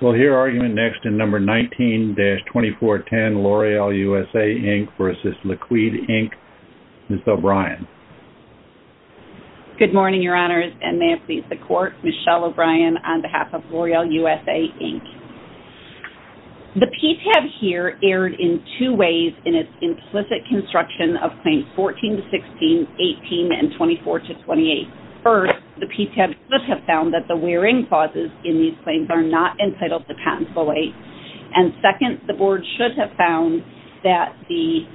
We'll hear argument next in No. 19-2410, L'Oreal USA, Inc. v. Liqwd, Inc., Ms. O'Brien. Good morning, Your Honors, and may it please the Court, Michelle O'Brien on behalf of L'Oreal USA, Inc. The PTAB here erred in two ways in its implicit construction of Claims 14-16, 18, and 24-28. First, the PTAB should have found that the wearing clauses in these claims are not entitled to patent belay. And second, the Board should have found that the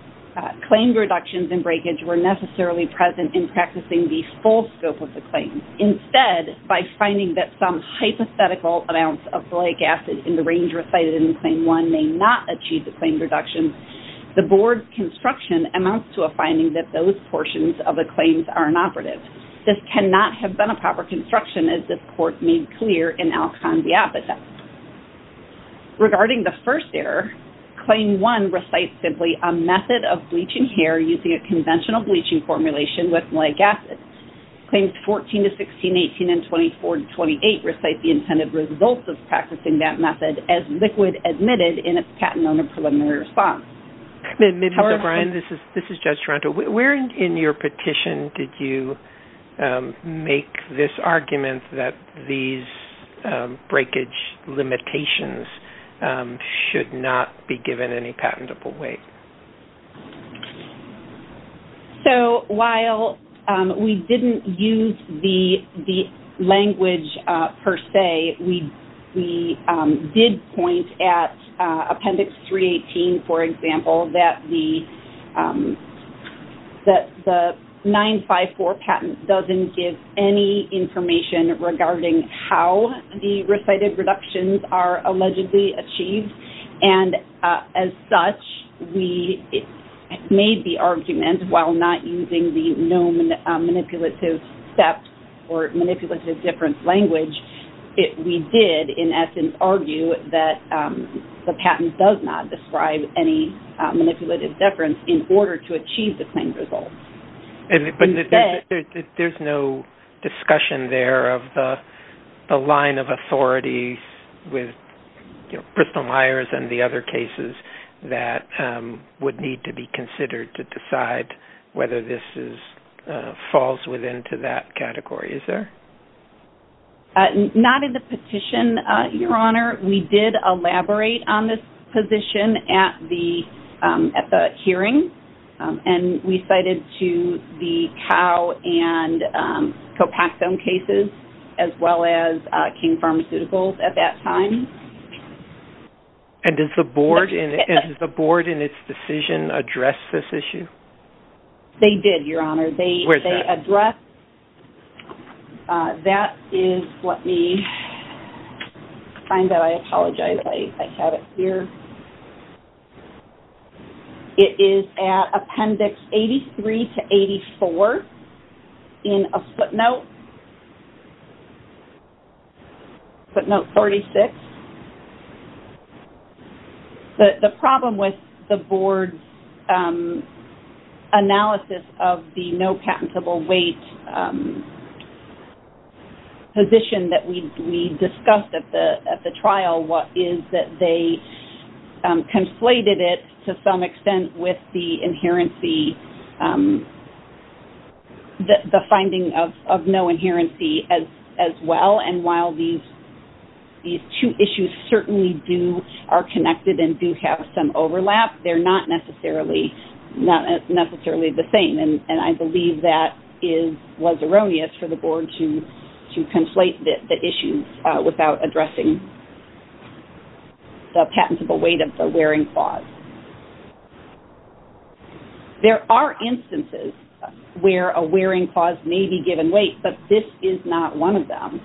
claim reductions and breakage were necessarily present in practicing the full scope of the claim. Instead, by finding that some hypothetical amounts of belay gasses in the range recited in Claim 1 may not achieve the claim reduction, the Board's construction amounts to a finding that those portions of the claims are inoperative. This cannot have been a proper construction, as this Court made clear in Alcon v. Apatow. Regarding the first error, Claim 1 recites simply, a method of bleaching hair using a conventional bleaching formulation with malic acid. Claims 14-16, 18, and 24-28 recite the intended results of practicing that method as Liqwd admitted in its Patent Owner Preliminary Response. This is Judge Toronto. Where in your petition did you make this argument that these breakage limitations should not be given any patentable weight? So, while we didn't use the language per se, we did point at Appendix 318, for example, that the 954 patent doesn't give any information regarding how the recited reductions are allegedly achieved. As such, we made the argument, while not using the known manipulative steps or manipulative difference language, we did, in essence, argue that the patent does not describe any manipulative difference in order to achieve the claimed results. But there's no discussion there of the line of authority with Bristol Myers and the other cases that would need to be considered to decide whether this falls within that category, is there? Not in the petition, Your Honor. We did elaborate on this position at the hearing, and we cited to the Cow and Copaxone cases, as well as King Pharmaceuticals at that time. And did the Board, in its decision, address this issue? They did, Your Honor. Where is that? They addressed- That is what we- I find that I apologize, I have it here. It is at Appendix 83 to 84 in a footnote, footnote 46. The problem with the Board's analysis of the no patentable weight position that we discussed at the trial, is that they conflated it to some extent with the finding of no inherency as well. And while these two issues certainly are connected and do have some overlap, they're not necessarily the same. And I believe that was erroneous for the Board to conflate the issues without addressing the patentable weight of the wearing clause. There are instances where a wearing clause may be given weight, but this is not one of them.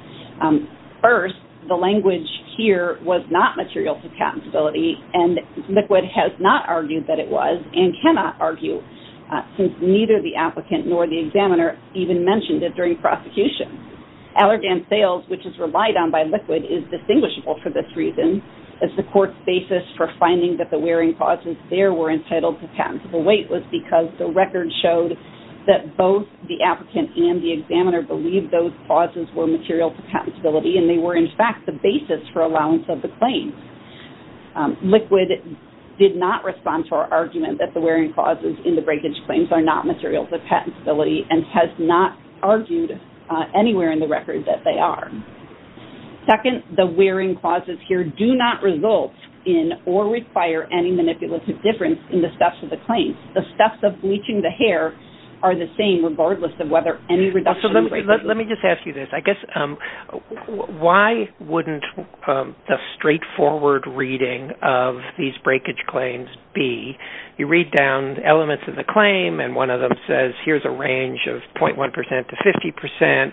First, the language here was not material to patentability, and Liquid has not argued that it was, and cannot argue, since neither the applicant nor the examiner even mentioned it during prosecution. Allergan sales, which is relied on by Liquid, is distinguishable for this reason, as the court's basis for finding that the wearing clauses there were entitled to patentable weight was because the record showed that both the applicant and the examiner believed those clauses were material to patentability, and they were, in fact, the basis for allowance of the claim. Liquid did not respond to our argument that the wearing clauses in the breakage claims are not material to patentability, and has not argued anywhere in the record that they are. Second, the wearing clauses here do not result in or require any manipulative difference in the steps of the claim. The steps of bleaching the hair are the same, regardless of whether any reduction is made. Let me just ask you this. I guess, why wouldn't the straightforward reading of these breakage claims be, you read down elements of the claim, and one of them says, here's a range of 0.1% to 50%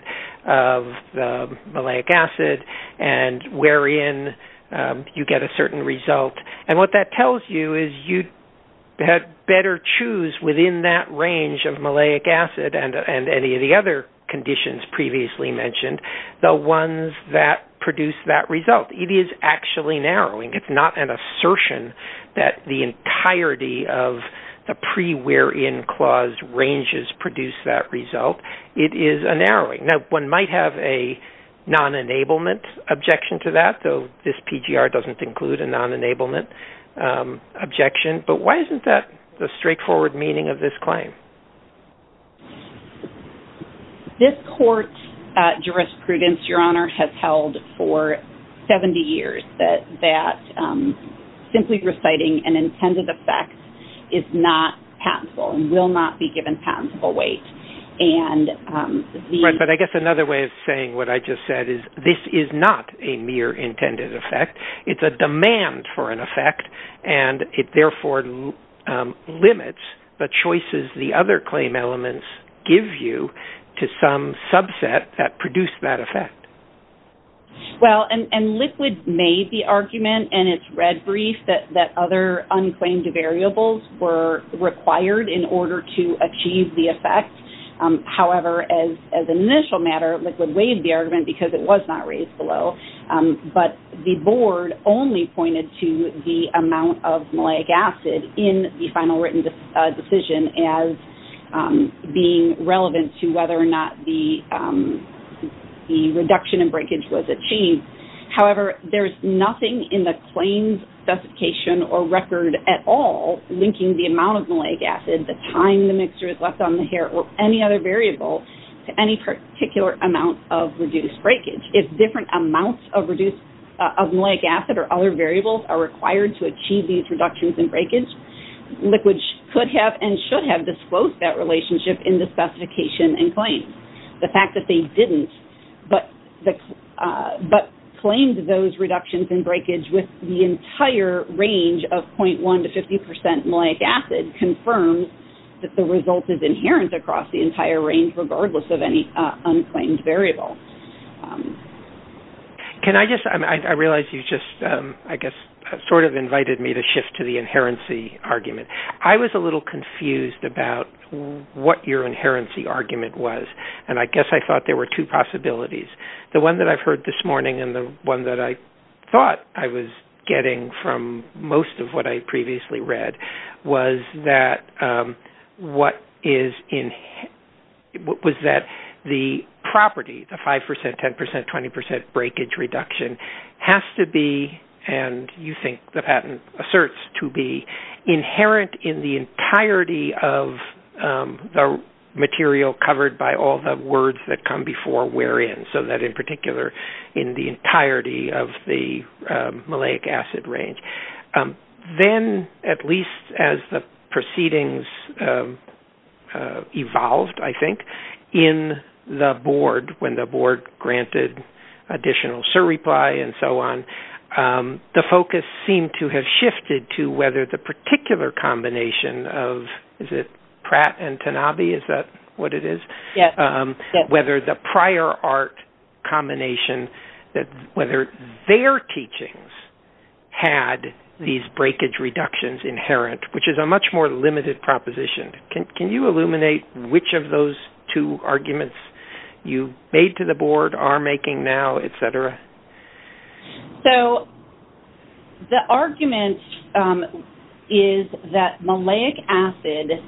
of the maliac acid, and wherein you get a certain result, and what that tells you is you had better choose within that range of maliac acid, and any of the other conditions previously mentioned, the ones that produce that result. It is actually narrowing. It's not an assertion that the entirety of the pre-wear-in clause ranges produce that result. It is a narrowing. Now, one might have a non-enablement objection to that, though this PGR doesn't include a non-enablement objection, but why isn't that the straightforward meaning of this claim? This court's jurisprudence, Your Honor, has held for 70 years that simply reciting an intended effect is not patentable and will not be given patentable weight. Right, but I guess another way of saying what I just said is this is not a mere intended effect. It's a demand for an effect, and it therefore limits the choices the other claim elements give you to some subset that produced that effect. Well, and Liquid made the argument, and it's read brief, that other unclaimed variables were required in order to achieve the effect. However, as an initial matter, Liquid waived the argument because it was not raised below, but the board only pointed to the amount of malic acid in the final written decision as being relevant to whether or not the reduction in breakage was achieved. However, there is nothing in the claim's specification or record at all linking the amount of malic acid, the time the mixture is left on the hair, or any other variable to any particular amount of reduced breakage. If different amounts of malic acid or other variables are required to achieve these reductions in breakage, Liquid could have and should have disclosed that relationship in the specification and claim. The fact that they didn't but claimed those reductions in breakage with the entire range of 0.1 to 50% malic acid confirms that the result is inherent across the entire range regardless of any unclaimed variable. Can I just, I realize you just, I guess, sort of invited me to shift to the inherency argument. I was a little confused about what your inherency argument was, and I guess I thought there were two possibilities. The one that I've heard this morning and the one that I thought I was getting from most of what I previously read was that the property, the 5%, 10%, 20% breakage reduction, has to be, and you think the patent asserts to be, inherent in the entirety of the material covered by all the words that come before wherein, so that in particular in the entirety of the malic acid range. Then, at least as the proceedings evolved, I think, in the board when the board granted additional surreply and so on, the focus seemed to have shifted to whether the particular combination of, is it Pratt and Tanabe, is that what it is? Whether the prior art combination, whether their teachings had these breakage reductions inherent, which is a much more limited proposition. Can you illuminate which of those two arguments you made to the board are making now, et cetera? So, the argument is that malic acid,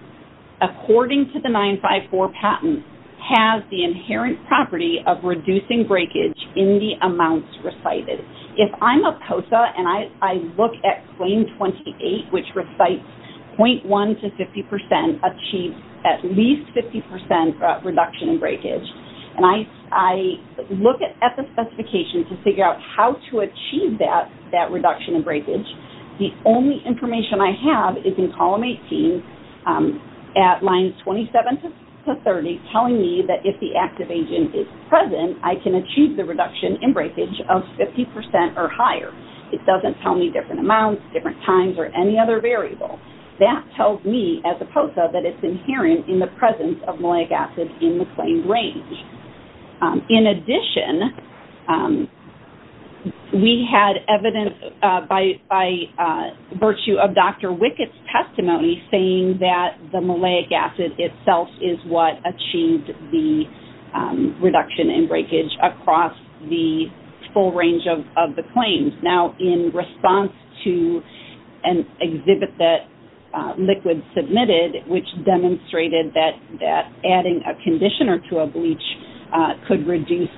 according to the 954 patent, has the inherent property of reducing breakage in the amounts recited. If I'm a COSA and I look at claim 28, which recites 0.1 to 50% achieve at least 50% reduction in breakage, and I look at the specification to figure out how to achieve that reduction in breakage, the only information I have is in column 18 at line 27 to 30, telling me that if the active agent is present, I can achieve the reduction in breakage of 50% or higher. It doesn't tell me different amounts, different times, or any other variable. That tells me, as a COSA, that it's inherent in the presence of malic acid in the claimed range. In addition, we had evidence by virtue of Dr. Wickett's testimony, saying that the malic acid itself is what achieved the reduction in breakage across the full range of the claims. Now, in response to an exhibit that LIQUID submitted, which demonstrated that adding a conditioner to a bleach could reduce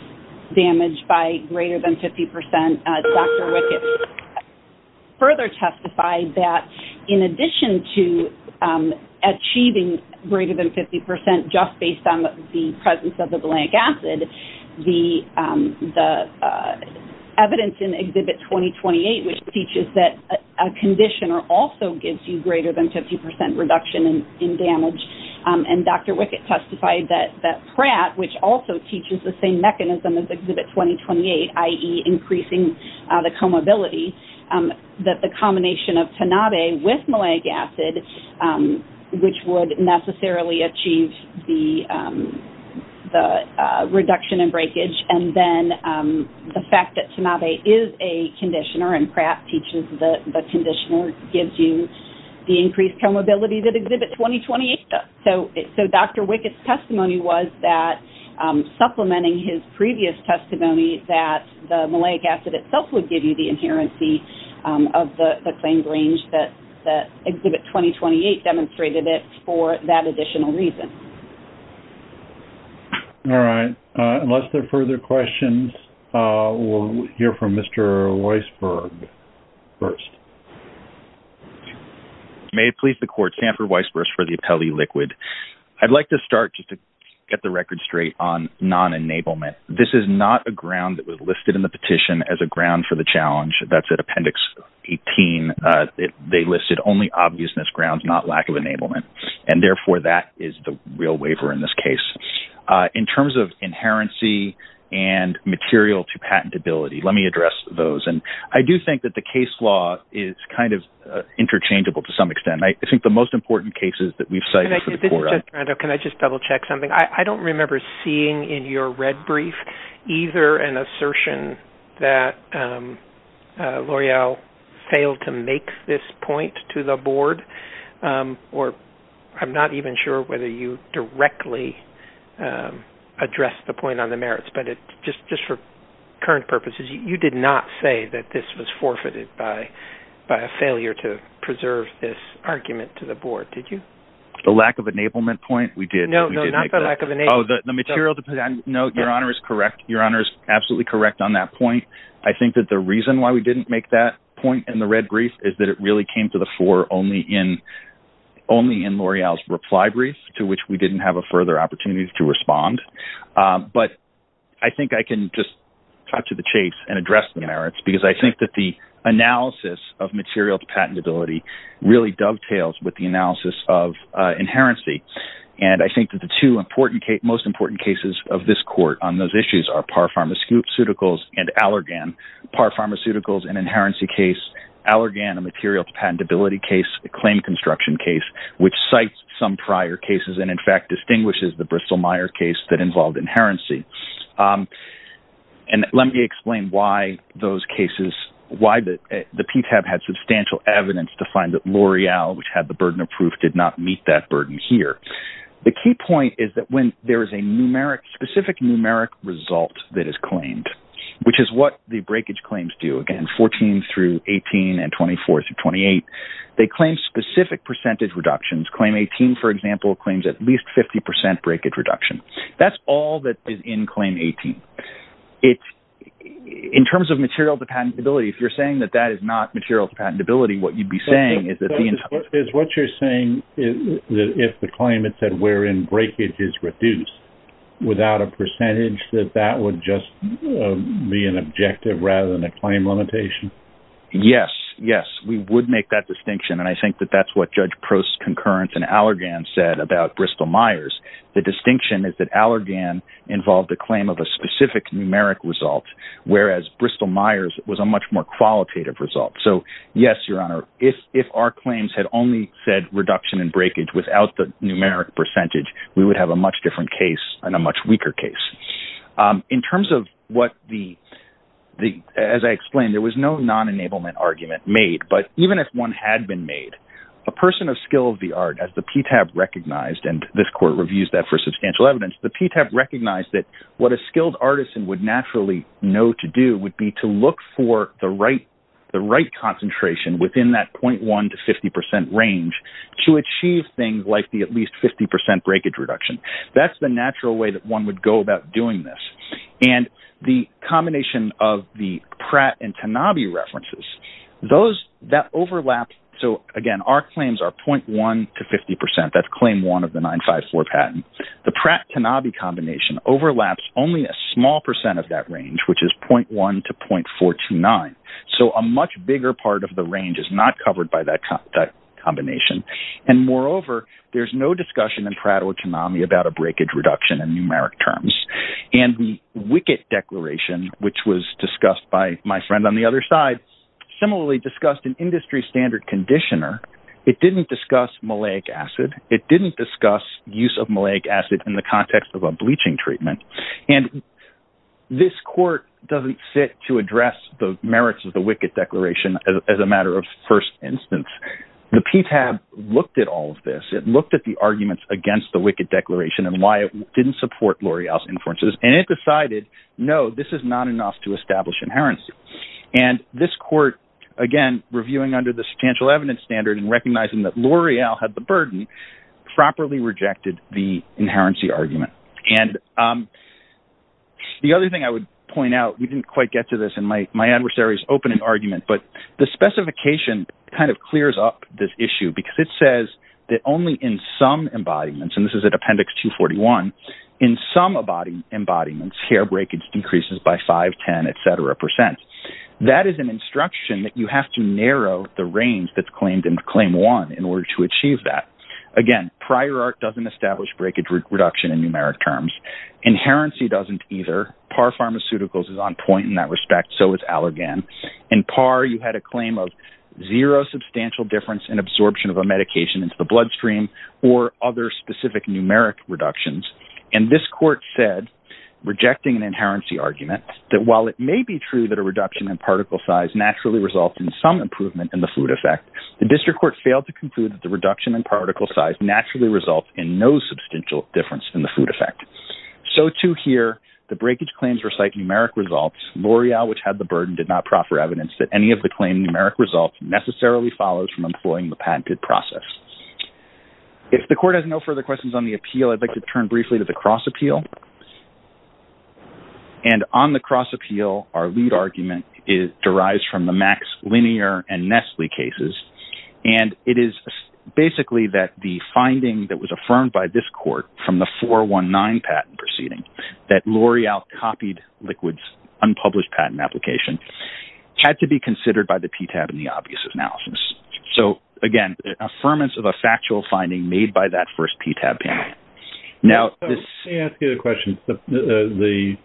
damage by greater than 50%, Dr. Wickett further testified that in addition to achieving greater than 50% just based on the presence of the malic acid, the evidence in Exhibit 2028, which teaches that a conditioner also gives you greater than 50% reduction in damage, and Dr. Wickett testified that PrAT, which also teaches the same mechanism as Exhibit 2028, i.e. increasing the comorbidity, that the combination of Tanabe with malic acid, which would necessarily achieve the reduction in breakage, and then the fact that Tanabe is a conditioner and PrAT teaches the conditioner, gives you the increased comorbidity that Exhibit 2028 does. So Dr. Wickett's testimony was that supplementing his previous testimony that the malic acid itself would give you the inherency of the claims range that Exhibit 2028 demonstrated it for that additional reason. All right. Unless there are further questions, we'll hear from Mr. Weisberg first. May it please the Court, Sanford Weisberg for the Appellee LIQUID. I'd like to start, just to get the record straight, on non-enablement. This is not a ground that was listed in the petition as a ground for the challenge. That's at Appendix 18. They listed only obviousness grounds, not lack of enablement. And therefore, that is the real waiver in this case. In terms of inherency and material to patentability, let me address those. I do think that the case law is kind of interchangeable to some extent. I think the most important cases that we've cited for the Court— I believe either an assertion that L'Oreal failed to make this point to the Board, or I'm not even sure whether you directly addressed the point on the merits. But just for current purposes, you did not say that this was forfeited by a failure to preserve this argument to the Board, did you? The lack of enablement point? We did make that? No, not the lack of enablement. No, Your Honor is correct. Your Honor is absolutely correct on that point. I think that the reason why we didn't make that point in the red brief is that it really came to the fore only in L'Oreal's reply brief, to which we didn't have a further opportunity to respond. But I think I can just talk to the case and address the merits, because I think that the analysis of material to patentability really dovetails with the analysis of inherency. And I think that the two most important cases of this Court on those issues are Parr Pharmaceuticals and Allergan. Parr Pharmaceuticals, an inherency case. Allergan, a material to patentability case. A claim construction case, which cites some prior cases and, in fact, distinguishes the Bristol-Myers case that involved inherency. And let me explain why those cases— why the PTAB had substantial evidence to find that L'Oreal, which had the burden of proof, did not meet that burden here. The key point is that when there is a specific numeric result that is claimed, which is what the breakage claims do, again, 14 through 18 and 24 through 28, they claim specific percentage reductions. Claim 18, for example, claims at least 50% breakage reduction. That's all that is in Claim 18. In terms of material to patentability, if you're saying that that is not material to patentability, what you'd be saying is that the entire— Is what you're saying is that if the claim had said wherein breakage is reduced without a percentage, that that would just be an objective rather than a claim limitation? Yes, yes. We would make that distinction, and I think that that's what Judge Prost's concurrence in Allergan said about Bristol-Myers. The distinction is that Allergan involved a claim of a specific numeric result, whereas Bristol-Myers was a much more qualitative result. So, yes, Your Honor, if our claims had only said reduction and breakage without the numeric percentage, we would have a much different case and a much weaker case. In terms of what the—as I explained, there was no non-enablement argument made, but even if one had been made, a person of skill of the art, as the PTAB recognized, and this court reviews that for substantial evidence, the PTAB recognized that what a skilled artisan would naturally know to do would be to look for the right concentration within that 0.1 to 50 percent range to achieve things like the at least 50 percent breakage reduction. That's the natural way that one would go about doing this. And the combination of the Pratt and Tanabe references, those—that overlap. So, again, our claims are 0.1 to 50 percent. That's claim one of the 954 patent. The Pratt-Tanabe combination overlaps only a small percent of that range, which is 0.1 to 0.429. So, a much bigger part of the range is not covered by that combination. And, moreover, there's no discussion in Pratt or Tanabe about a breakage reduction in numeric terms. And Wickett Declaration, which was discussed by my friend on the other side, similarly discussed an industry standard conditioner. It didn't discuss malic acid. It didn't discuss use of malic acid in the context of a bleaching treatment. And this court doesn't sit to address the merits of the Wickett Declaration as a matter of first instance. The PTAB looked at all of this. It looked at the arguments against the Wickett Declaration and why it didn't support L'Oreal's inferences. And it decided, no, this is not enough to establish inherency. And this court, again, reviewing under the substantial evidence standard and recognizing that L'Oreal had the burden, properly rejected the inherency argument. And the other thing I would point out, we didn't quite get to this in my adversary's opening argument, but the specification kind of clears up this issue because it says that only in some embodiments, and this is at Appendix 241, in some embodiments, hair breakage increases by 5, 10, etc. percent. That is an instruction that you have to narrow the range that's claimed in Claim 1 in order to achieve that. Again, prior art doesn't establish breakage reduction in numeric terms. Inherency doesn't either. Par Pharmaceuticals is on point in that respect. So is Allergan. In Par, you had a claim of zero substantial difference in absorption of a medication into the bloodstream or other specific numeric reductions. And this court said, rejecting an inherency argument, that while it may be true that a reduction in particle size naturally results in some improvement in the food effect, the district court failed to conclude that the reduction in particle size naturally results in no substantial difference in the food effect. So too here, the breakage claims recite numeric results. L'Oreal, which had the burden, did not proffer evidence that any of the claimed numeric results necessarily follows from employing the patented process. If the court has no further questions on the appeal, I'd like to turn briefly to the cross appeal. And on the cross appeal, our lead argument derives from the Max Linear and Nestle cases. And it is basically that the finding that was affirmed by this court from the 419 patent proceeding, that L'Oreal copied Liquid's unpublished patent application, had to be considered by the PTAB in the obvious analysis. So again, the affirmance of a factual finding made by that first PTAB panel. Let me ask you a question. The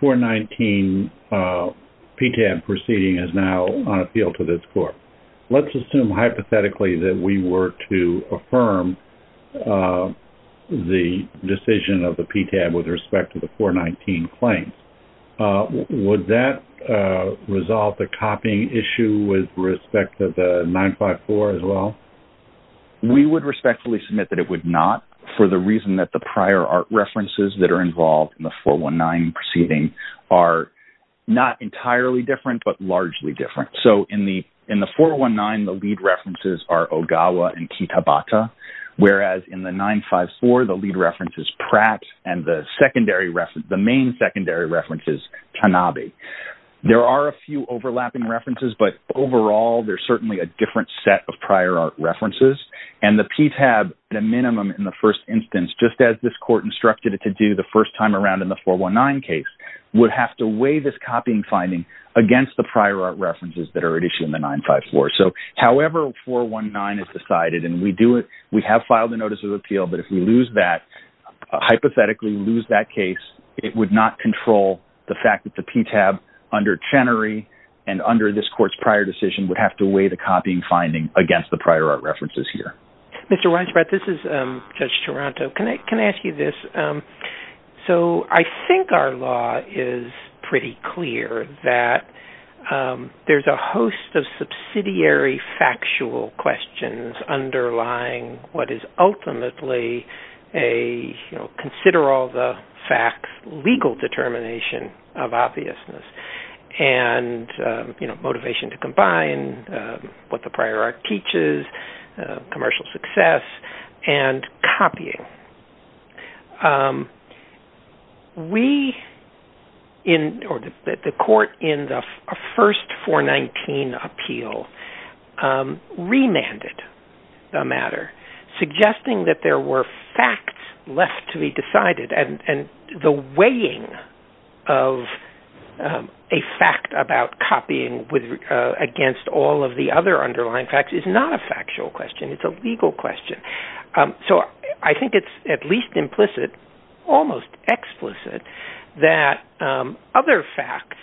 419 PTAB proceeding is now on appeal to this court. Let's assume hypothetically that we were to affirm the decision of the PTAB with respect to the 419 claims. Would that resolve the copying issue with respect to the 954 as well? We would respectfully submit that it would not for the reason that the prior art references that are involved in the 419 proceeding are not entirely different, but largely different. So in the 419, the lead references are Ogawa and Kitabata, whereas in the 954, the lead reference is Pratt, and the main secondary reference is Tanabe. There are a few overlapping references, but overall, there's certainly a different set of prior art references. And the PTAB, the minimum in the first instance, just as this court instructed it to do the first time around in the 419 case, would have to weigh this copying finding against the prior art references that are at issue in the 954. So however 419 is decided, and we have filed a notice of appeal, but if we lose that, hypothetically lose that case, it would not control the fact that the PTAB under Chenery and under this court's prior decision would have to weigh the copying finding against the prior art references here. Mr. Weisbrot, this is Judge Taranto. Can I ask you this? So I think our law is pretty clear that there's a host of subsidiary factual questions underlying what is ultimately a consider-all-the-facts legal determination of obviousness and motivation to combine what the prior art teaches, commercial success, and copying. The court in the first 419 appeal remanded the matter, suggesting that there were facts left to be decided, and the weighing of a fact about copying against all of the other underlying facts is not a factual question, it's a legal question. So I think it's at least implicit, almost explicit, that other facts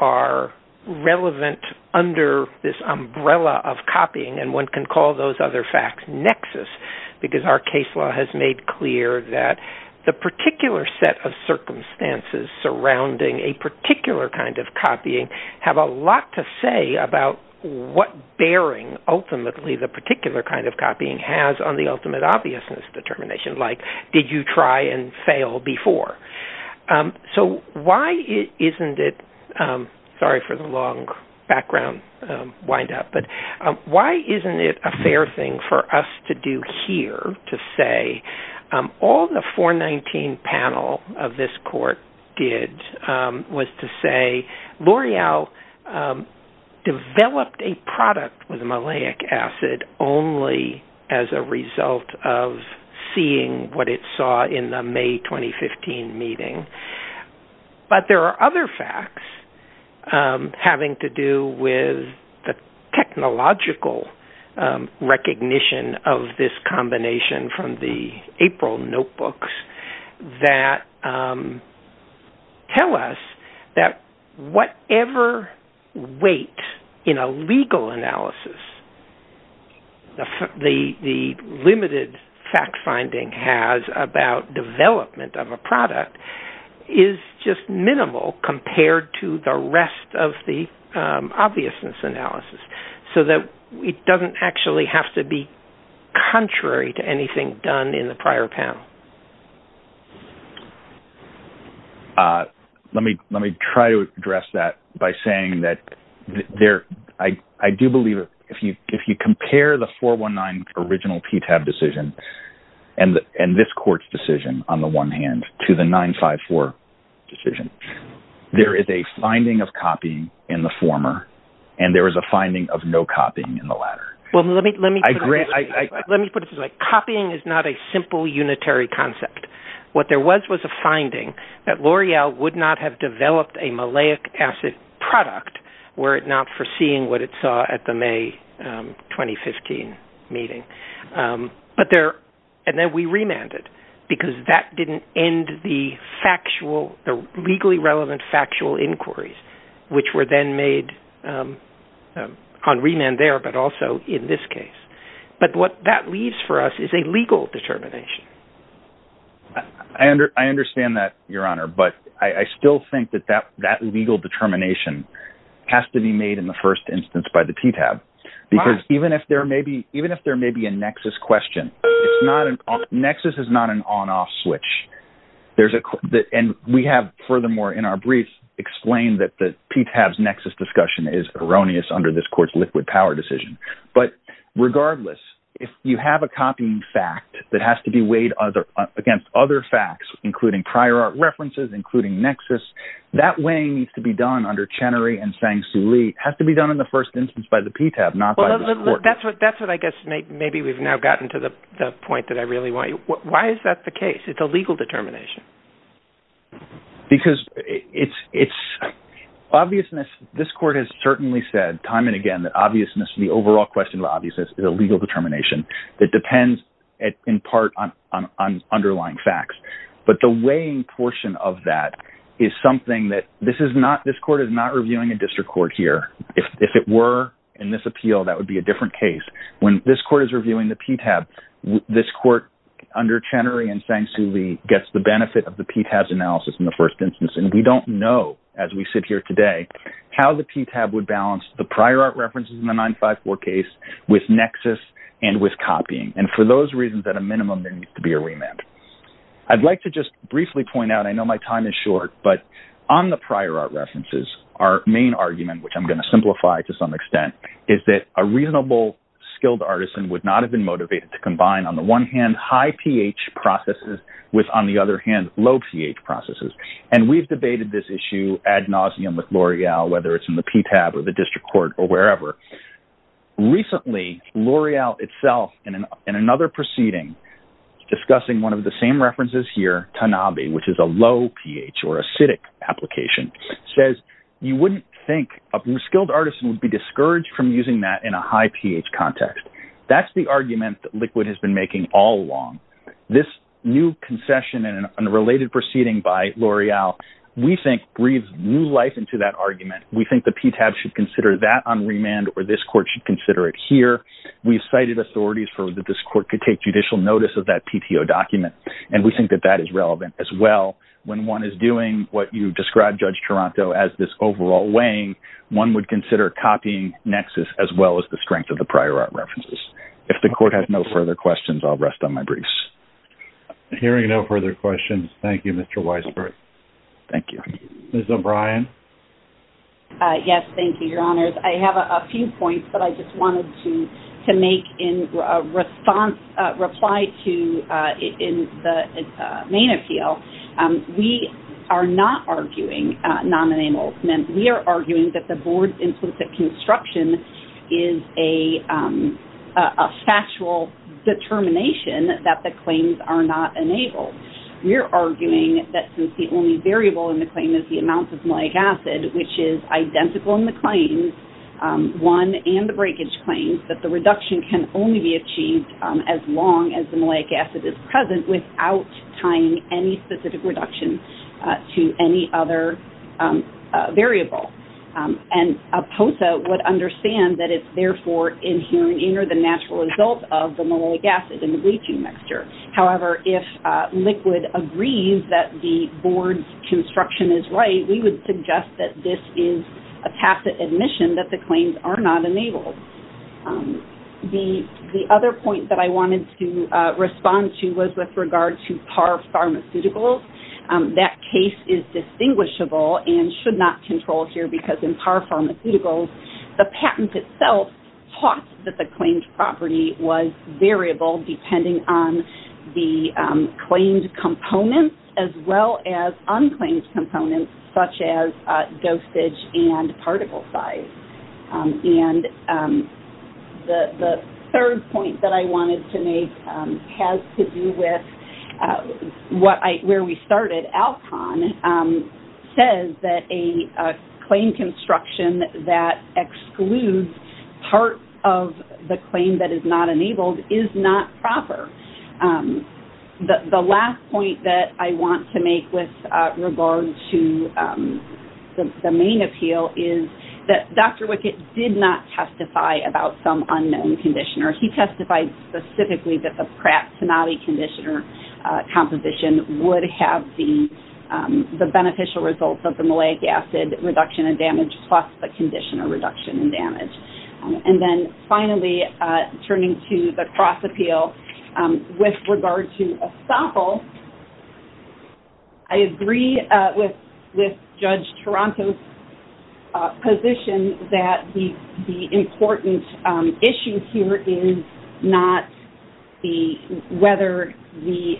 are relevant under this umbrella of copying, and one can call those other facts nexus, because our case law has made clear that the particular set of circumstances surrounding a particular kind of copying have a lot to say about what bearing ultimately the particular kind of copying has on the ultimate obviousness determination, like did you try and fail before. So why isn't it, sorry for the long background wind-up, but why isn't it a fair thing for us to do here to say All the 419 panel of this court did was to say L'Oreal developed a product with malic acid only as a result of seeing what it saw in the May 2015 meeting, but there are other facts having to do with the technological recognition of this combination from the April notebooks that tell us that whatever weight in a legal analysis the limited fact finding has about development of a product is just minimal compared to the rest of the obviousness analysis, so that it doesn't actually have to be contrary to anything done in the prior panel. Let me try to address that by saying that I do believe if you compare the 419 original PTAB decision and this court's decision on the one hand to the 954 decision, there is a finding of copying in the former, and there is a finding of no copying in the latter. Let me put it this way, copying is not a simple unitary concept. What there was was a finding that L'Oreal would not have developed a malic acid product were it not for seeing what it saw at the May 2015 meeting, and then we remanded because that didn't end the legally relevant factual inquiries which were then made on remand there but also in this case, but what that leaves for us is a legal determination. I understand that, Your Honor, but I still think that that legal determination has to be made in the first instance by the PTAB, because even if there may be a nexus question, nexus is not an on-off switch, and we have furthermore in our briefs explained that the PTAB's nexus discussion is erroneous under this court's liquid power decision, but regardless, if you have a copying fact that has to be weighed against other facts including prior art references, including nexus, that weighing needs to be done under Chenery and Sang-Soo Lee. It has to be done in the first instance by the PTAB, not by this court. That's what I guess maybe we've now gotten to the point that I really want. Why is that the case? It's a legal determination. Because it's obviousness. This court has certainly said time and again that the overall question of obviousness is a legal determination that depends in part on underlying facts, but the weighing portion of that is something that this court is not reviewing a district court here. If it were in this appeal, that would be a different case. When this court is reviewing the PTAB, this court under Chenery and Sang-Soo Lee gets the benefit of the PTAB's analysis in the first instance, and we don't know, as we sit here today, how the PTAB would balance the prior art references in the 954 case with nexus and with copying, and for those reasons, at a minimum, there needs to be a remand. I'd like to just briefly point out, I know my time is short, but on the prior art references, our main argument, which I'm going to simplify to some extent, is that a reasonable, skilled artisan would not have been motivated to combine, on the one hand, high pH processes with, on the other hand, low pH processes, and we've debated this issue ad nauseum with L'Oreal, whether it's in the PTAB or the district court or wherever. Recently, L'Oreal itself, in another proceeding, discussing one of the same references here, Tanabe, which is a low pH or acidic application, says you wouldn't think a skilled artisan would be discouraged from using that in a high pH context. That's the argument that Liquid has been making all along. This new concession in a related proceeding by L'Oreal, we think, breathes new life into that argument. We think the PTAB should consider that on remand, or this court should consider it here. We've cited authorities for that this court could take judicial notice of that PTO document, and we think that that is relevant as well. When one is doing what you described, Judge Toronto, as this overall weighing, one would consider copying Nexus as well as the strength of the prior art references. If the court has no further questions, I'll rest on my briefs. Hearing no further questions, thank you, Mr. Weisberg. Thank you. Ms. O'Brien? Yes, thank you, Your Honors. I have a few points that I just wanted to make in response, reply to in the main appeal. We are not arguing non-enablement. We are arguing that the board's implicit construction is a factual determination that the claims are not enabled. We are arguing that since the only variable in the claim is the amount of malic acid, which is identical in the claims, one and the breakage claims, that the reduction can only be achieved as long as the malic acid is present without tying any specific reduction to any other variable. And a POTA would understand that it's therefore inherently the natural result of the malic acid in the bleaching mixture. However, if Liquid agrees that the board's construction is right, we would suggest that this is a tacit admission that the claims are not enabled. The other point that I wanted to respond to was with regard to Parr Pharmaceuticals. That case is distinguishable and should not control here because in Parr Pharmaceuticals, the patent itself taught that the claims property was variable depending on the claimed components as well as unclaimed components, such as dosage and particle size. And the third point that I wanted to make has to do with where we started. Alcon says that a claim construction that excludes part of the claim that is not enabled is not proper. The last point that I want to make with regard to the main appeal is that Dr. Wickett did not testify about some unknown conditioner. He testified specifically that the Pratt-Tonati conditioner composition would have the beneficial results of the malic acid reduction in damage plus the conditioner reduction in damage. And then finally, turning to the cross appeal with regard to Estoppel, I agree with Judge Toronto's position that the important issue here is not whether the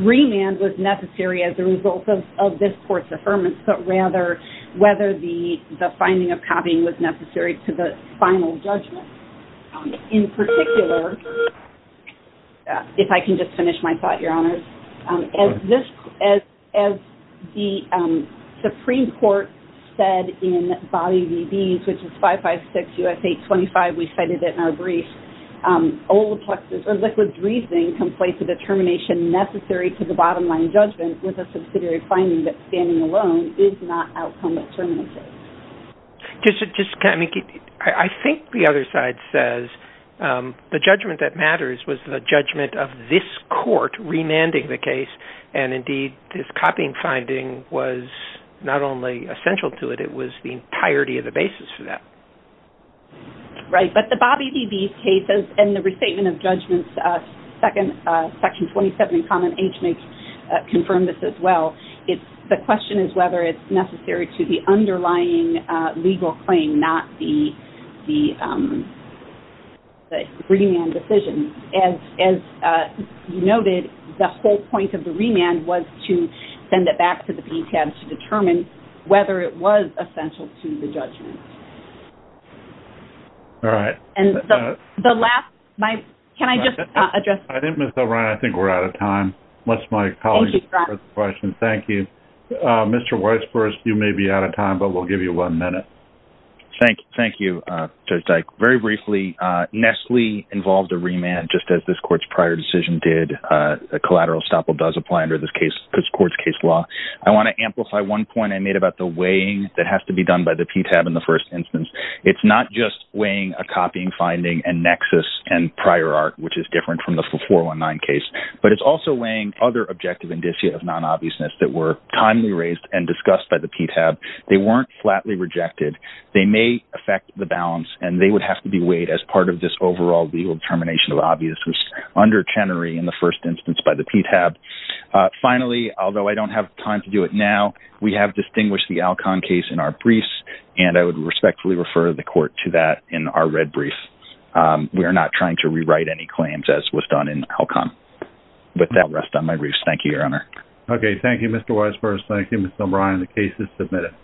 remand was necessary as a result of this court's affirmance, but rather whether the finding of copying was necessary to the final judgment. In particular, if I can just finish my thought, Your Honors, as the Supreme Court said in Bobby V. Bees, which is 556 U.S. 825, we cited it in our brief, I think the other side says the judgment that matters was the judgment of this court remanding the case. And indeed, this copying finding was not only essential to it, it was the entirety of the basis for that. Right, but the Bobby V. Bees case and the restatement of judgments, Section 27 in Common Age makes confirm this as well. The question is whether it's necessary to the underlying legal claim, not the remand decision. And as you noted, the whole point of the remand was to send it back to the BTAB to determine whether it was essential to the judgment. All right. And the last, can I just address this? I think, Ms. O'Brien, I think we're out of time. Unless my colleague has a question. Thank you. Mr. Weisburst, you may be out of time, but we'll give you one minute. Thank you, Judge Dyke. Very briefly, Nestle involved a remand, just as this court's prior decision did. A collateral estoppel does apply under this court's case law. I want to amplify one point I made about the weighing that has to be done by the PTAB in the first instance. It's not just weighing a copying finding and nexus and prior art, which is different from the 419 case, but it's also weighing other objective indicia of non-obviousness that were timely raised and discussed by the PTAB. They weren't flatly rejected. They may affect the balance, and they would have to be weighed as part of this overall legal determination of obviousness under Chenery in the first instance by the PTAB. Finally, although I don't have time to do it now, we have distinguished the Alcon case in our briefs, and I would respectfully refer the court to that in our red brief. We are not trying to rewrite any claims, as was done in Alcon. With that, I'll rest on my briefs. Thank you, Your Honor. Okay. Thank you, Mr. Weisburst. Thank you, Ms. O'Brien. The case is submitted.